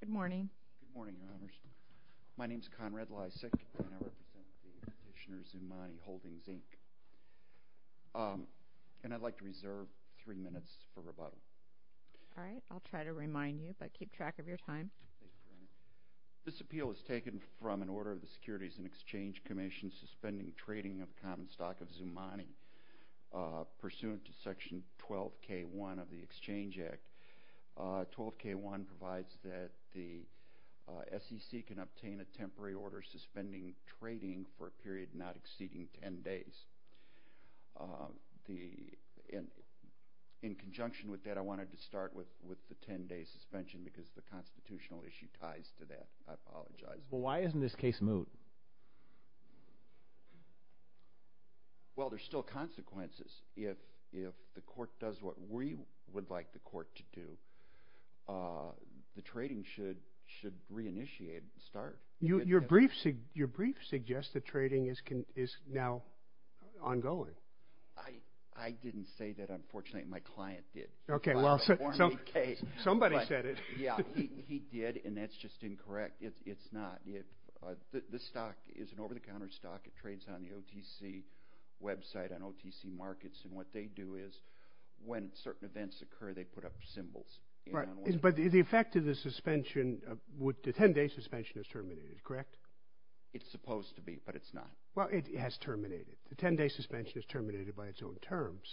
Good morning. Good morning, Your Honors. My name is Conrad Lysak, and I represent the Traditioner Zumanii Holdings, Inc. And I'd like to reserve three minutes for rebuttal. All right. I'll try to remind you, but keep track of your time. This appeal is taken from an order of the Securities and Exchange Commission suspending trading of the common stock of Zumanii pursuant to Section 12K1 of the Exchange Act. 12K1 provides that the SEC can obtain a temporary order suspending trading for a period not exceeding 10 days. In conjunction with that, I wanted to start with the 10-day suspension because the constitutional issue ties to that. I apologize. Well, why isn't this case moved? Well, there's still consequences. If the court does what we would like the court to do, the trading should reinitiate and start. Your brief suggests that trading is now ongoing. I didn't say that, unfortunately. My client did. Okay, well, somebody said it. Yeah, he did, and that's just incorrect. It's not. This stock is an over-the-counter stock. It trades on the OTC website, on OTC markets, and what they do is when certain events occur, they put up symbols. But the effect of the suspension, the 10-day suspension is terminated, correct? It's supposed to be, but it's not. Well, it has terminated. The 10-day suspension is terminated by its own terms.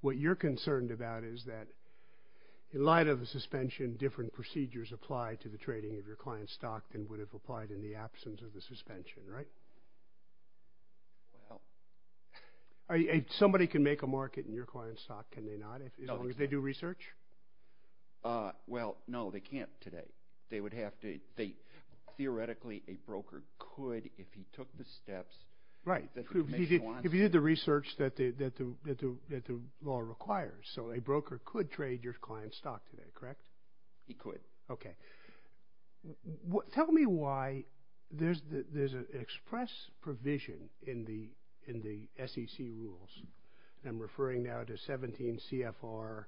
What you're concerned about is that in light of the suspension, different procedures apply to the trading of your client's stock and would have applied in the absence of the suspension, right? Somebody can make a market in your client's stock, can they not, as long as they do research? Well, no, they can't today. Theoretically, a broker could if he took the steps. Right, if he did the research that the law requires. So a broker could trade your client's stock today, correct? He could. Okay. Tell me why there's an express provision in the SEC rules, and I'm referring now to 17 CFR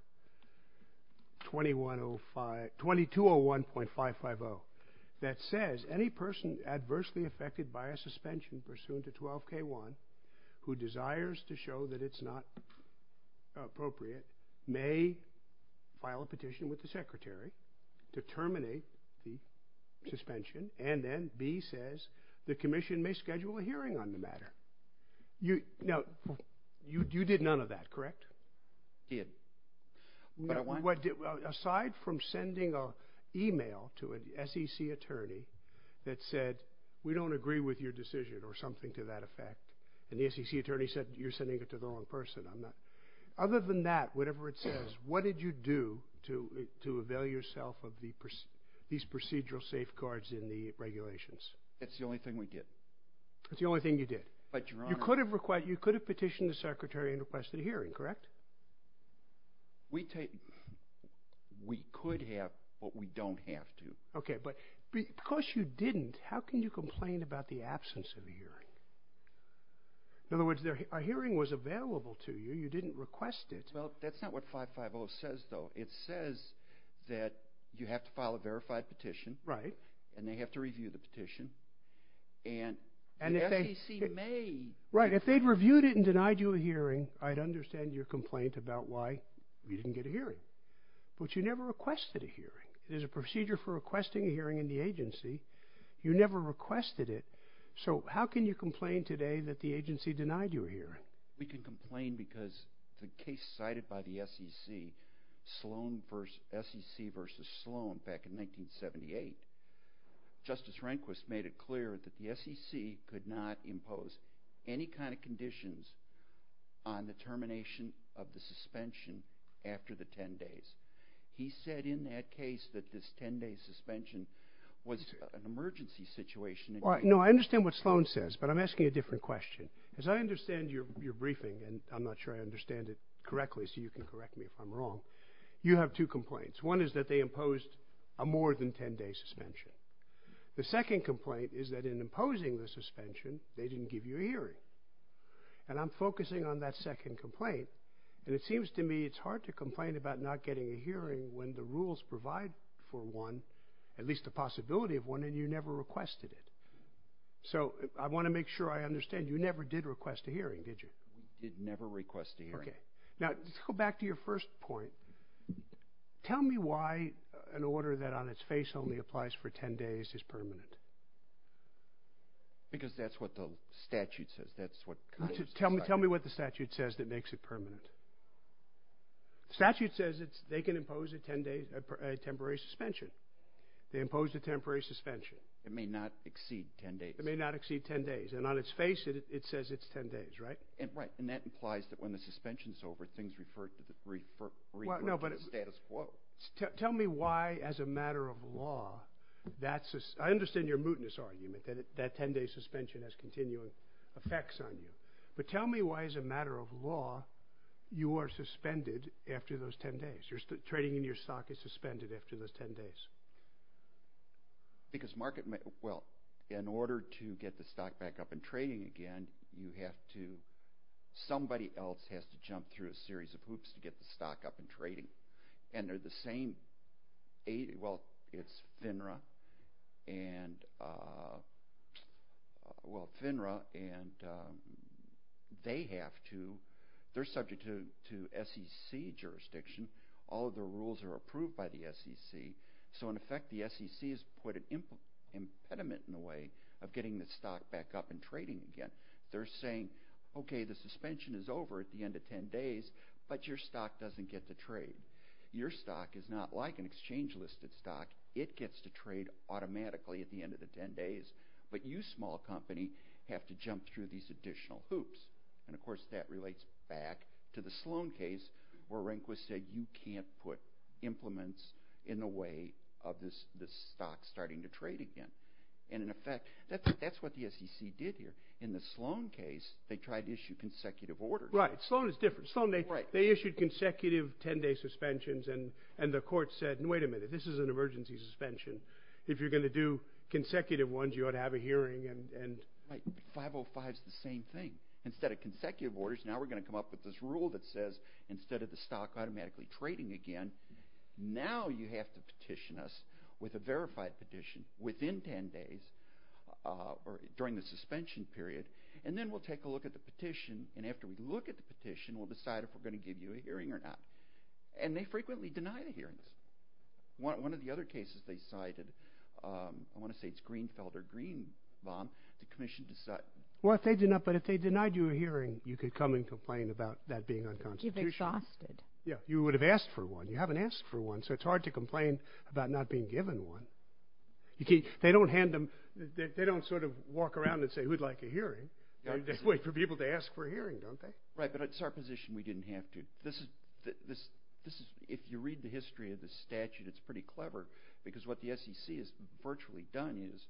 2201.550, that says any person adversely affected by a suspension pursuant to 12K1 who desires to show that it's not appropriate may file a petition with the secretary to terminate the suspension, and then B says the commission may schedule a hearing on the matter. Now, you did none of that, correct? He didn't. Aside from sending an email to an SEC attorney that said, we don't agree with your decision or something to that effect, and the SEC attorney said you're sending it to the wrong person. Other than that, whatever it says, what did you do to avail yourself of these procedural safeguards in the regulations? That's the only thing we did. That's the only thing you did? But, Your Honor. You could have petitioned the secretary and requested a hearing, correct? We could have, but we don't have to. Okay, but because you didn't, how can you complain about the absence of a hearing? In other words, a hearing was available to you. You didn't request it. Well, that's not what 550 says, though. It says that you have to file a verified petition, and they have to review the petition, and the SEC may… Right, if they'd reviewed it and denied you a hearing, I'd understand your complaint about why you didn't get a hearing. But you never requested a hearing. There's a procedure for requesting a hearing in the agency. You never requested it. So how can you complain today that the agency denied you a hearing? We can complain because the case cited by the SEC, SEC v. Sloan back in 1978, Justice Rehnquist made it clear that the SEC could not impose any kind of conditions on the termination of the suspension after the 10 days. He said in that case that this 10-day suspension was an emergency situation. No, I understand what Sloan says, but I'm asking a different question. As I understand your briefing, and I'm not sure I understand it correctly, so you can correct me if I'm wrong, you have two complaints. One is that they imposed a more than 10-day suspension. The second complaint is that in imposing the suspension, they didn't give you a hearing. And I'm focusing on that second complaint, and it seems to me it's hard to complain about not getting a hearing when the rules provide for one, at least the possibility of one, and you never requested it. So I want to make sure I understand. You never did request a hearing, did you? I did never request a hearing. Now, let's go back to your first point. Tell me why an order that on its face only applies for 10 days is permanent. Because that's what the statute says. Tell me what the statute says that makes it permanent. The statute says they can impose a temporary suspension. They imposed a temporary suspension. It may not exceed 10 days. It may not exceed 10 days. And on its face, it says it's 10 days, right? Right, and that implies that when the suspension's over, things refer to the status quo. Tell me why, as a matter of law, that's a— I understand your mootness argument, that 10-day suspension has continuing effects on you. But tell me why, as a matter of law, you are suspended after those 10 days. Trading in your stock is suspended after those 10 days. Because market—well, in order to get the stock back up and trading again, you have to— somebody else has to jump through a series of hoops to get the stock up and trading. And they're the same—well, it's FINRA and—well, FINRA and they have to— all of the rules are approved by the SEC. So, in effect, the SEC has put an impediment in the way of getting the stock back up and trading again. They're saying, okay, the suspension is over at the end of 10 days, but your stock doesn't get to trade. Your stock is not like an exchange-listed stock. It gets to trade automatically at the end of the 10 days. But you, small company, have to jump through these additional hoops. And, of course, that relates back to the Sloan case, where Rehnquist said, you can't put implements in the way of the stock starting to trade again. And, in effect, that's what the SEC did here. In the Sloan case, they tried to issue consecutive orders. Right. Sloan is different. Sloan, they issued consecutive 10-day suspensions, and the court said, wait a minute, this is an emergency suspension. If you're going to do consecutive ones, you ought to have a hearing. Right. 505 is the same thing. Instead of consecutive orders, now we're going to come up with this rule that says, instead of the stock automatically trading again, now you have to petition us with a verified petition within 10 days or during the suspension period. And then we'll take a look at the petition. And after we look at the petition, we'll decide if we're going to give you a hearing or not. And they frequently denied a hearing. One of the other cases they cited, I want to say it's Greenfield or Greenbaum, the commission decided. Well, if they denied you a hearing, you could come and complain about that being unconstitutional. You'd be exhausted. Yeah. You would have asked for one. You haven't asked for one, so it's hard to complain about not being given one. They don't hand them – they don't sort of walk around and say, who'd like a hearing? They wait for people to ask for a hearing, don't they? Right, but it's our position we didn't have to. This is – if you read the history of the statute, it's pretty clever, because what the SEC has virtually done is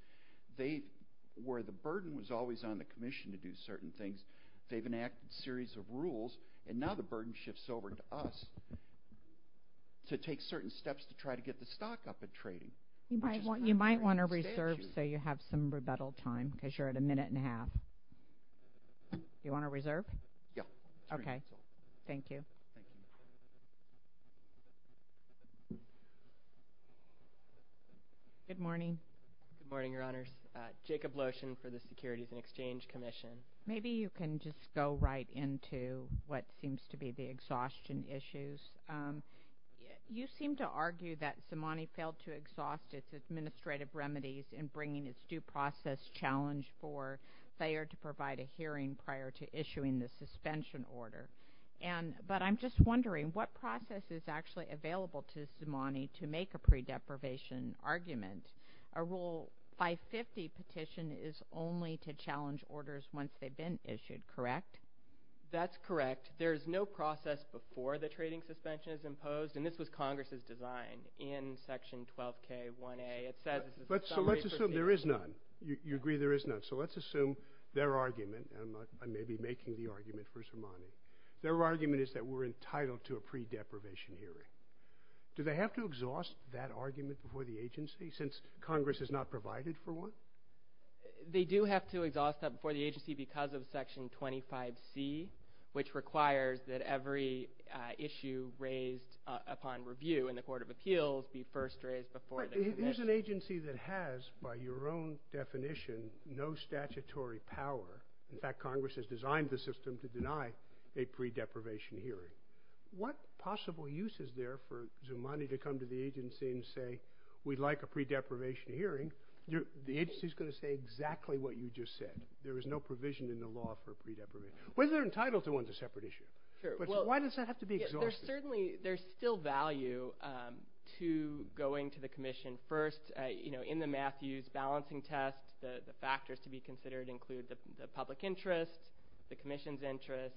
they – where the burden was always on the commission to do certain things, they've enacted a series of rules, and now the burden shifts over to us to take certain steps to try to get the stock up at trading. You might want to reserve so you have some rebuttal time because you're at a minute and a half. You want to reserve? Yeah. Okay. Thank you. Good morning. Good morning, Your Honors. Jacob Lotion for the Securities and Exchange Commission. Maybe you can just go right into what seems to be the exhaustion issues. You seem to argue that CIMANI failed to exhaust its administrative remedies in bringing its due process challenge for Thayer to provide a hearing prior to issuing the suspension order, but I'm just wondering what process is actually available to CIMANI to make a pre-deprivation argument. A Rule 550 petition is only to challenge orders once they've been issued, correct? That's correct. There is no process before the trading suspension is imposed, and this was Congress's design. In Section 12K1A, it says – So let's assume there is none. You agree there is none. So let's assume their argument – and I may be making the argument for CIMANI – their argument is that we're entitled to a pre-deprivation hearing. Do they have to exhaust that argument before the agency since Congress has not provided for one? They do have to exhaust that before the agency because of Section 25C, which requires that every issue raised upon review in the Court of Appeals be first raised before the commission. Here's an agency that has, by your own definition, no statutory power. In fact, Congress has designed the system to deny a pre-deprivation hearing. What possible use is there for CIMANI to come to the agency and say, we'd like a pre-deprivation hearing? The agency is going to say exactly what you just said. There is no provision in the law for pre-deprivation. Whether they're entitled to one is a separate issue. Why does that have to be exhausted? Certainly, there's still value to going to the commission first. In the Matthews balancing test, the factors to be considered include the public interest, the commission's interest,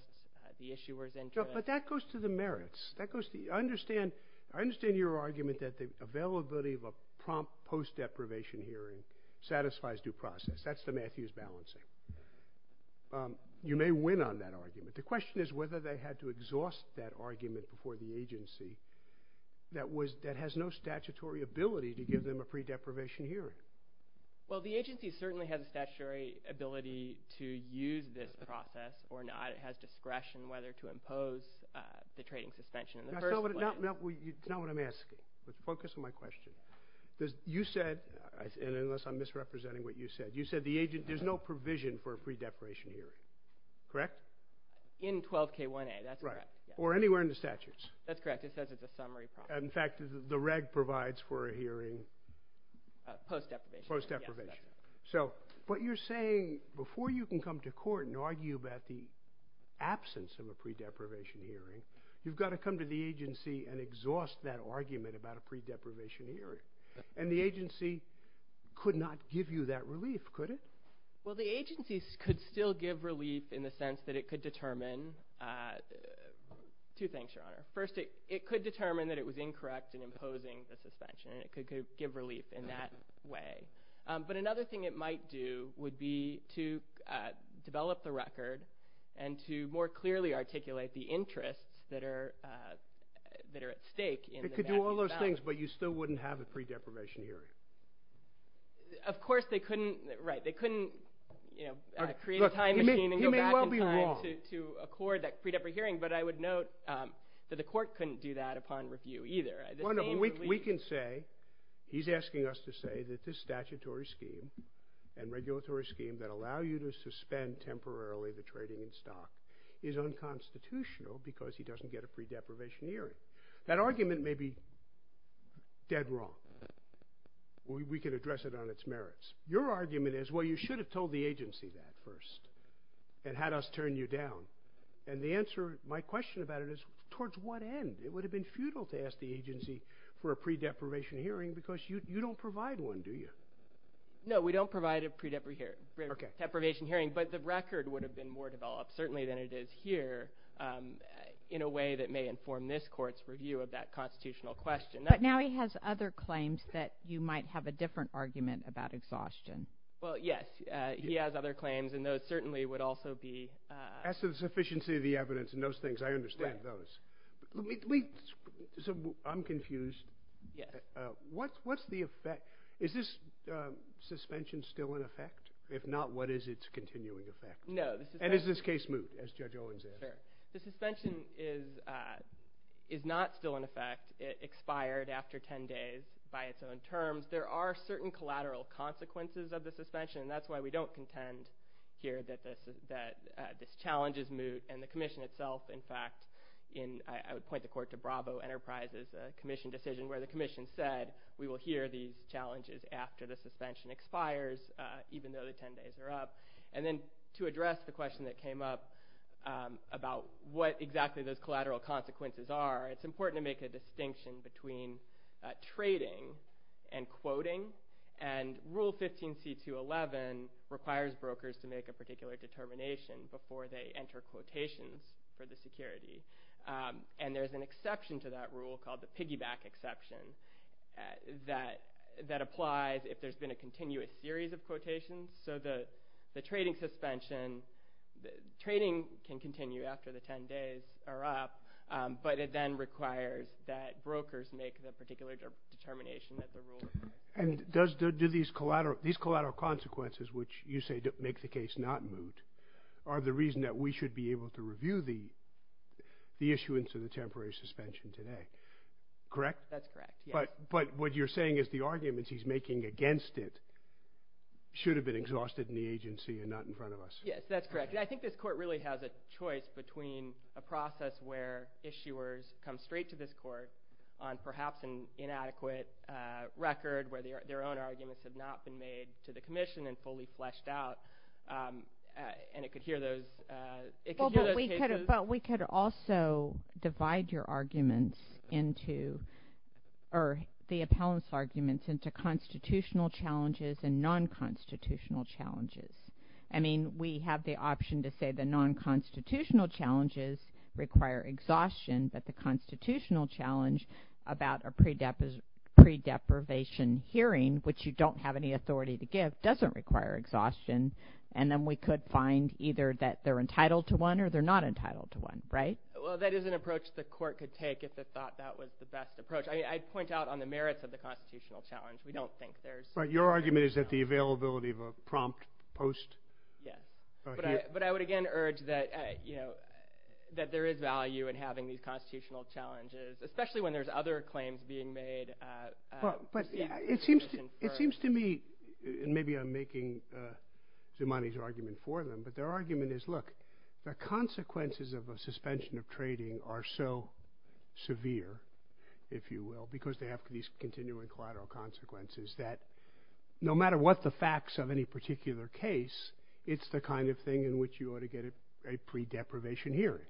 the issuer's interest. But that goes to the merits. I understand your argument that the availability of a prompt post-deprivation hearing satisfies due process. That's the Matthews balancing. You may win on that argument. The question is whether they had to exhaust that argument before the agency that has no statutory ability to give them a pre-deprivation hearing. Well, the agency certainly has a statutory ability to use this process or not. It has discretion whether to impose the trading suspension in the first place. That's not what I'm asking. Focus on my question. You said, and unless I'm misrepresenting what you said, you said there's no provision for a pre-deprivation hearing. Correct? In 12K1A, that's correct. Or anywhere in the statutes. That's correct. It says it's a summary prompt. In fact, the reg provides for a hearing. Post-deprivation. Post-deprivation. So what you're saying, before you can come to court and argue about the absence of a pre-deprivation hearing, you've got to come to the agency and exhaust that argument about a pre-deprivation hearing. And the agency could not give you that relief, could it? Well, the agency could still give relief in the sense that it could determine, two things, Your Honor. First, it could determine that it was incorrect in imposing the suspension, and it could give relief in that way. But another thing it might do would be to develop the record and to more clearly articulate the interests that are at stake in the matching balance. It could do all those things, but you still wouldn't have a pre-deprivation hearing. Of course, they couldn't create a time machine and go back in time to accord that pre-deprivation hearing, but I would note that the court couldn't do that upon review either. We can say, he's asking us to say that this statutory scheme and regulatory scheme that allow you to suspend temporarily the trading in stock is unconstitutional because he doesn't get a pre-deprivation hearing. That argument may be dead wrong. We could address it on its merits. Your argument is, well, you should have told the agency that first and had us turn you down. And the answer, my question about it is, towards what end? It would have been futile to ask the agency for a pre-deprivation hearing because you don't provide one, do you? No, we don't provide a pre-deprivation hearing, but the record would have been more developed certainly than it is here in a way that may inform this court's review of that constitutional question. But now he has other claims that you might have a different argument about exhaustion. Well, yes, he has other claims, and those certainly would also be – As to the sufficiency of the evidence and those things, I understand those. I'm confused. What's the effect? Is this suspension still in effect? If not, what is its continuing effect? No, this is – And is this case moved, as Judge Owens asked? The suspension is not still in effect. It expired after 10 days by its own terms. There are certain collateral consequences of the suspension, and that's why we don't contend here that this challenge is moot. And the commission itself, in fact, I would point the court to Bravo Enterprises' commission decision where the commission said we will hear these challenges after the suspension expires, even though the 10 days are up. And then to address the question that came up about what exactly those collateral consequences are, it's important to make a distinction between trading and quoting. And Rule 15C.2.11 requires brokers to make a particular determination before they enter quotations for the security. And there's an exception to that rule called the piggyback exception that applies if there's been a continuous series of quotations. So the trading suspension – Trading can continue after the 10 days are up, but it then requires that brokers make the particular determination that the rule requires. And do these collateral consequences, which you say make the case not moot, are the reason that we should be able to review the issuance of the temporary suspension today? Correct? That's correct, yes. But what you're saying is the arguments he's making against it should have been exhausted in the agency and not in front of us. Yes, that's correct. I think this court really has a choice between a process where issuers come straight to this court on perhaps an inadequate record where their own arguments have not been made to the commission and fully fleshed out, and it could hear those cases. But we could also divide your arguments into – or the appellants' arguments into constitutional challenges and non-constitutional challenges. I mean, we have the option to say the non-constitutional challenges require exhaustion, but the constitutional challenge about a pre-deprivation hearing, which you don't have any authority to give, doesn't require exhaustion. And then we could find either that they're entitled to one or they're not entitled to one, right? Well, that is an approach the court could take if it thought that was the best approach. I'd point out on the merits of the constitutional challenge. We don't think there's – Right. Your argument is that the availability of a prompt post? Yes. But I would, again, urge that there is value in having these constitutional challenges, especially when there's other claims being made. But it seems to me – and maybe I'm making Zimani's argument for them – but their argument is, look, the consequences of a suspension of trading are so severe, if you will, because they have these continuing collateral consequences, that no matter what the facts of any particular case, it's the kind of thing in which you ought to get a pre-deprivation hearing.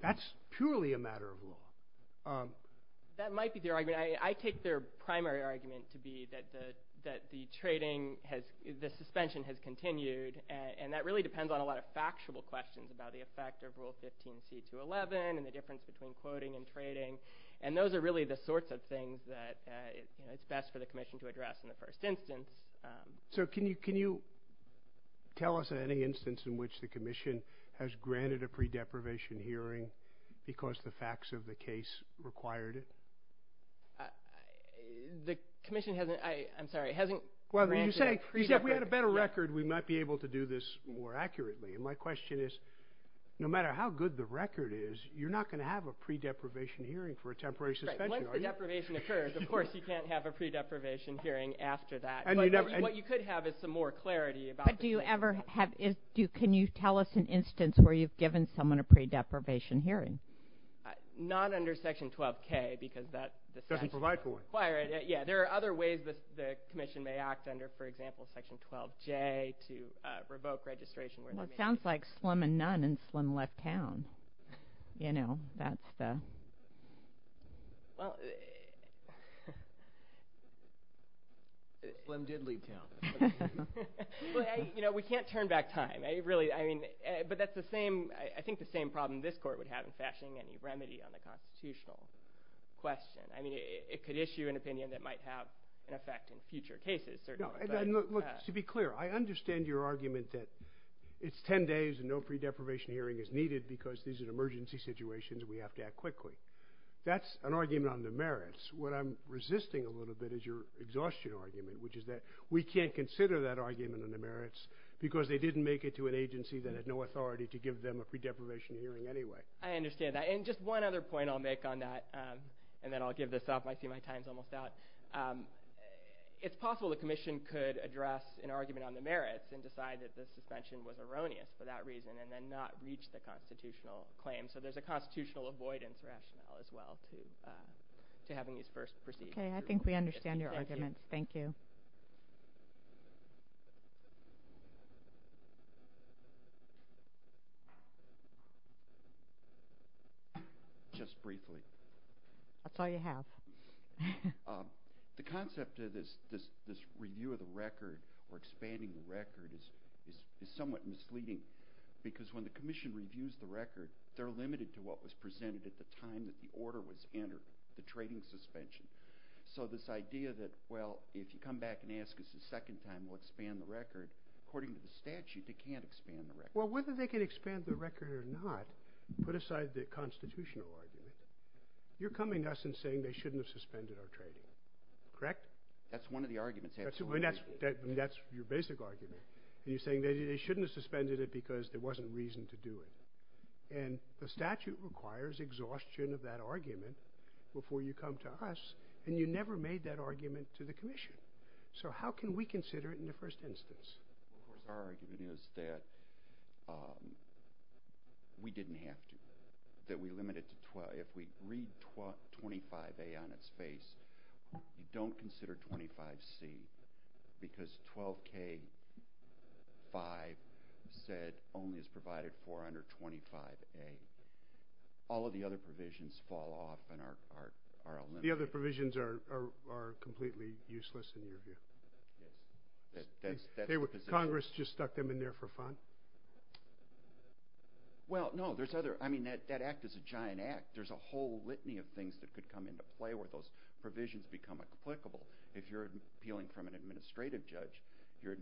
That's purely a matter of law. That might be their argument. I take their primary argument to be that the trading has – the suspension has continued, and that really depends on a lot of factual questions about the effect of Rule 15c211 and the difference between quoting and trading. And those are really the sorts of things that it's best for the Commission to address in the first instance. So can you tell us any instance in which the Commission has granted a pre-deprivation hearing because the facts of the case required it? The Commission hasn't – I'm sorry – hasn't granted a pre-deprivation hearing. Well, you said if we had a better record, we might be able to do this more accurately. And my question is, no matter how good the record is, you're not going to have a pre-deprivation hearing for a temporary suspension, are you? Right. Once the deprivation occurs, of course you can't have a pre-deprivation hearing after that. And you never – What you could have is some more clarity about the – But do you ever have – can you tell us an instance where you've given someone a pre-deprivation hearing? Not under Section 12k because that – Doesn't provide for it. Yeah, there are other ways the Commission may act under, for example, Section 12j to revoke registration. Well, it sounds like Slim and Nunn and Slim left town. You know, that's the – Well – Slim did leave town. You know, we can't turn back time. I really – I mean – but that's the same – I think the same problem this Court would have in fashioning any remedy on the constitutional question. I mean, it could issue an opinion that might have an effect in future cases, certainly. Look, to be clear, I understand your argument that it's 10 days and no pre-deprivation hearing is needed because these are emergency situations and we have to act quickly. That's an argument on the merits. What I'm resisting a little bit is your exhaustion argument, which is that we can't consider that argument on the merits because they didn't make it to an agency that had no authority to give them a pre-deprivation hearing anyway. I understand that. And just one other point I'll make on that, and then I'll give this up. I see my time's almost out. It's possible the Commission could address an argument on the merits and decide that the suspension was erroneous for that reason and then not reach the constitutional claim. So there's a constitutional avoidance rationale as well to having these first proceedings. Okay, I think we understand your argument. Thank you. Just briefly. That's all you have. The concept of this review of the record or expanding the record is somewhat misleading because when the Commission reviews the record, they're limited to what was presented at the time that the order was entered, the trading suspension. So this idea that, well, if you come back and ask us a second time, we'll expand the record, according to the statute, they can't expand the record. Well, whether they can expand the record or not, put aside the constitutional argument, you're coming to us and saying they shouldn't have suspended our trading, correct? That's one of the arguments. That's your basic argument. You're saying they shouldn't have suspended it because there wasn't reason to do it. And the statute requires exhaustion of that argument before you come to us, and you never made that argument to the Commission. So how can we consider it in the first instance? Our argument is that we didn't have to, that we limited to 12. If we read 25A on its face, don't consider 25C because 12K5 said only is provided for under 25A. All of the other provisions fall off and are eliminated. The other provisions are completely useless in your view? Congress just stuck them in there for fun? Well, no, there's other, I mean, that act is a giant act. There's a whole litany of things that could come into play where those provisions become applicable. If you're appealing from an administrative judge, you're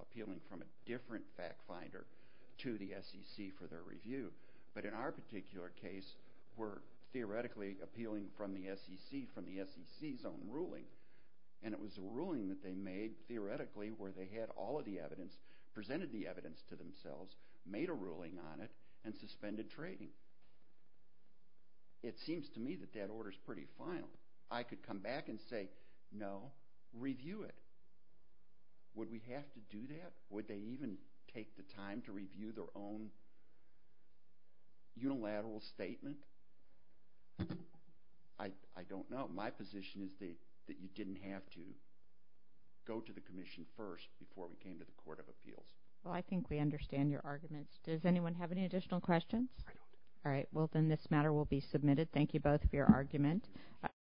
appealing from a different fact finder to the SEC for their review. But in our particular case, we're theoretically appealing from the SEC from the SEC's own ruling, and it was a ruling that they made theoretically where they had all of the evidence, presented the evidence to themselves, made a ruling on it, and suspended trading. It seems to me that that order is pretty final. I could come back and say, no, review it. Would we have to do that? Would they even take the time to review their own unilateral statement? I don't know. My position is that you didn't have to go to the Commission first before we came to the Court of Appeals. Well, I think we understand your arguments. Does anyone have any additional questions? I don't. All right, well, then this matter will be submitted. Thank you both for your argument.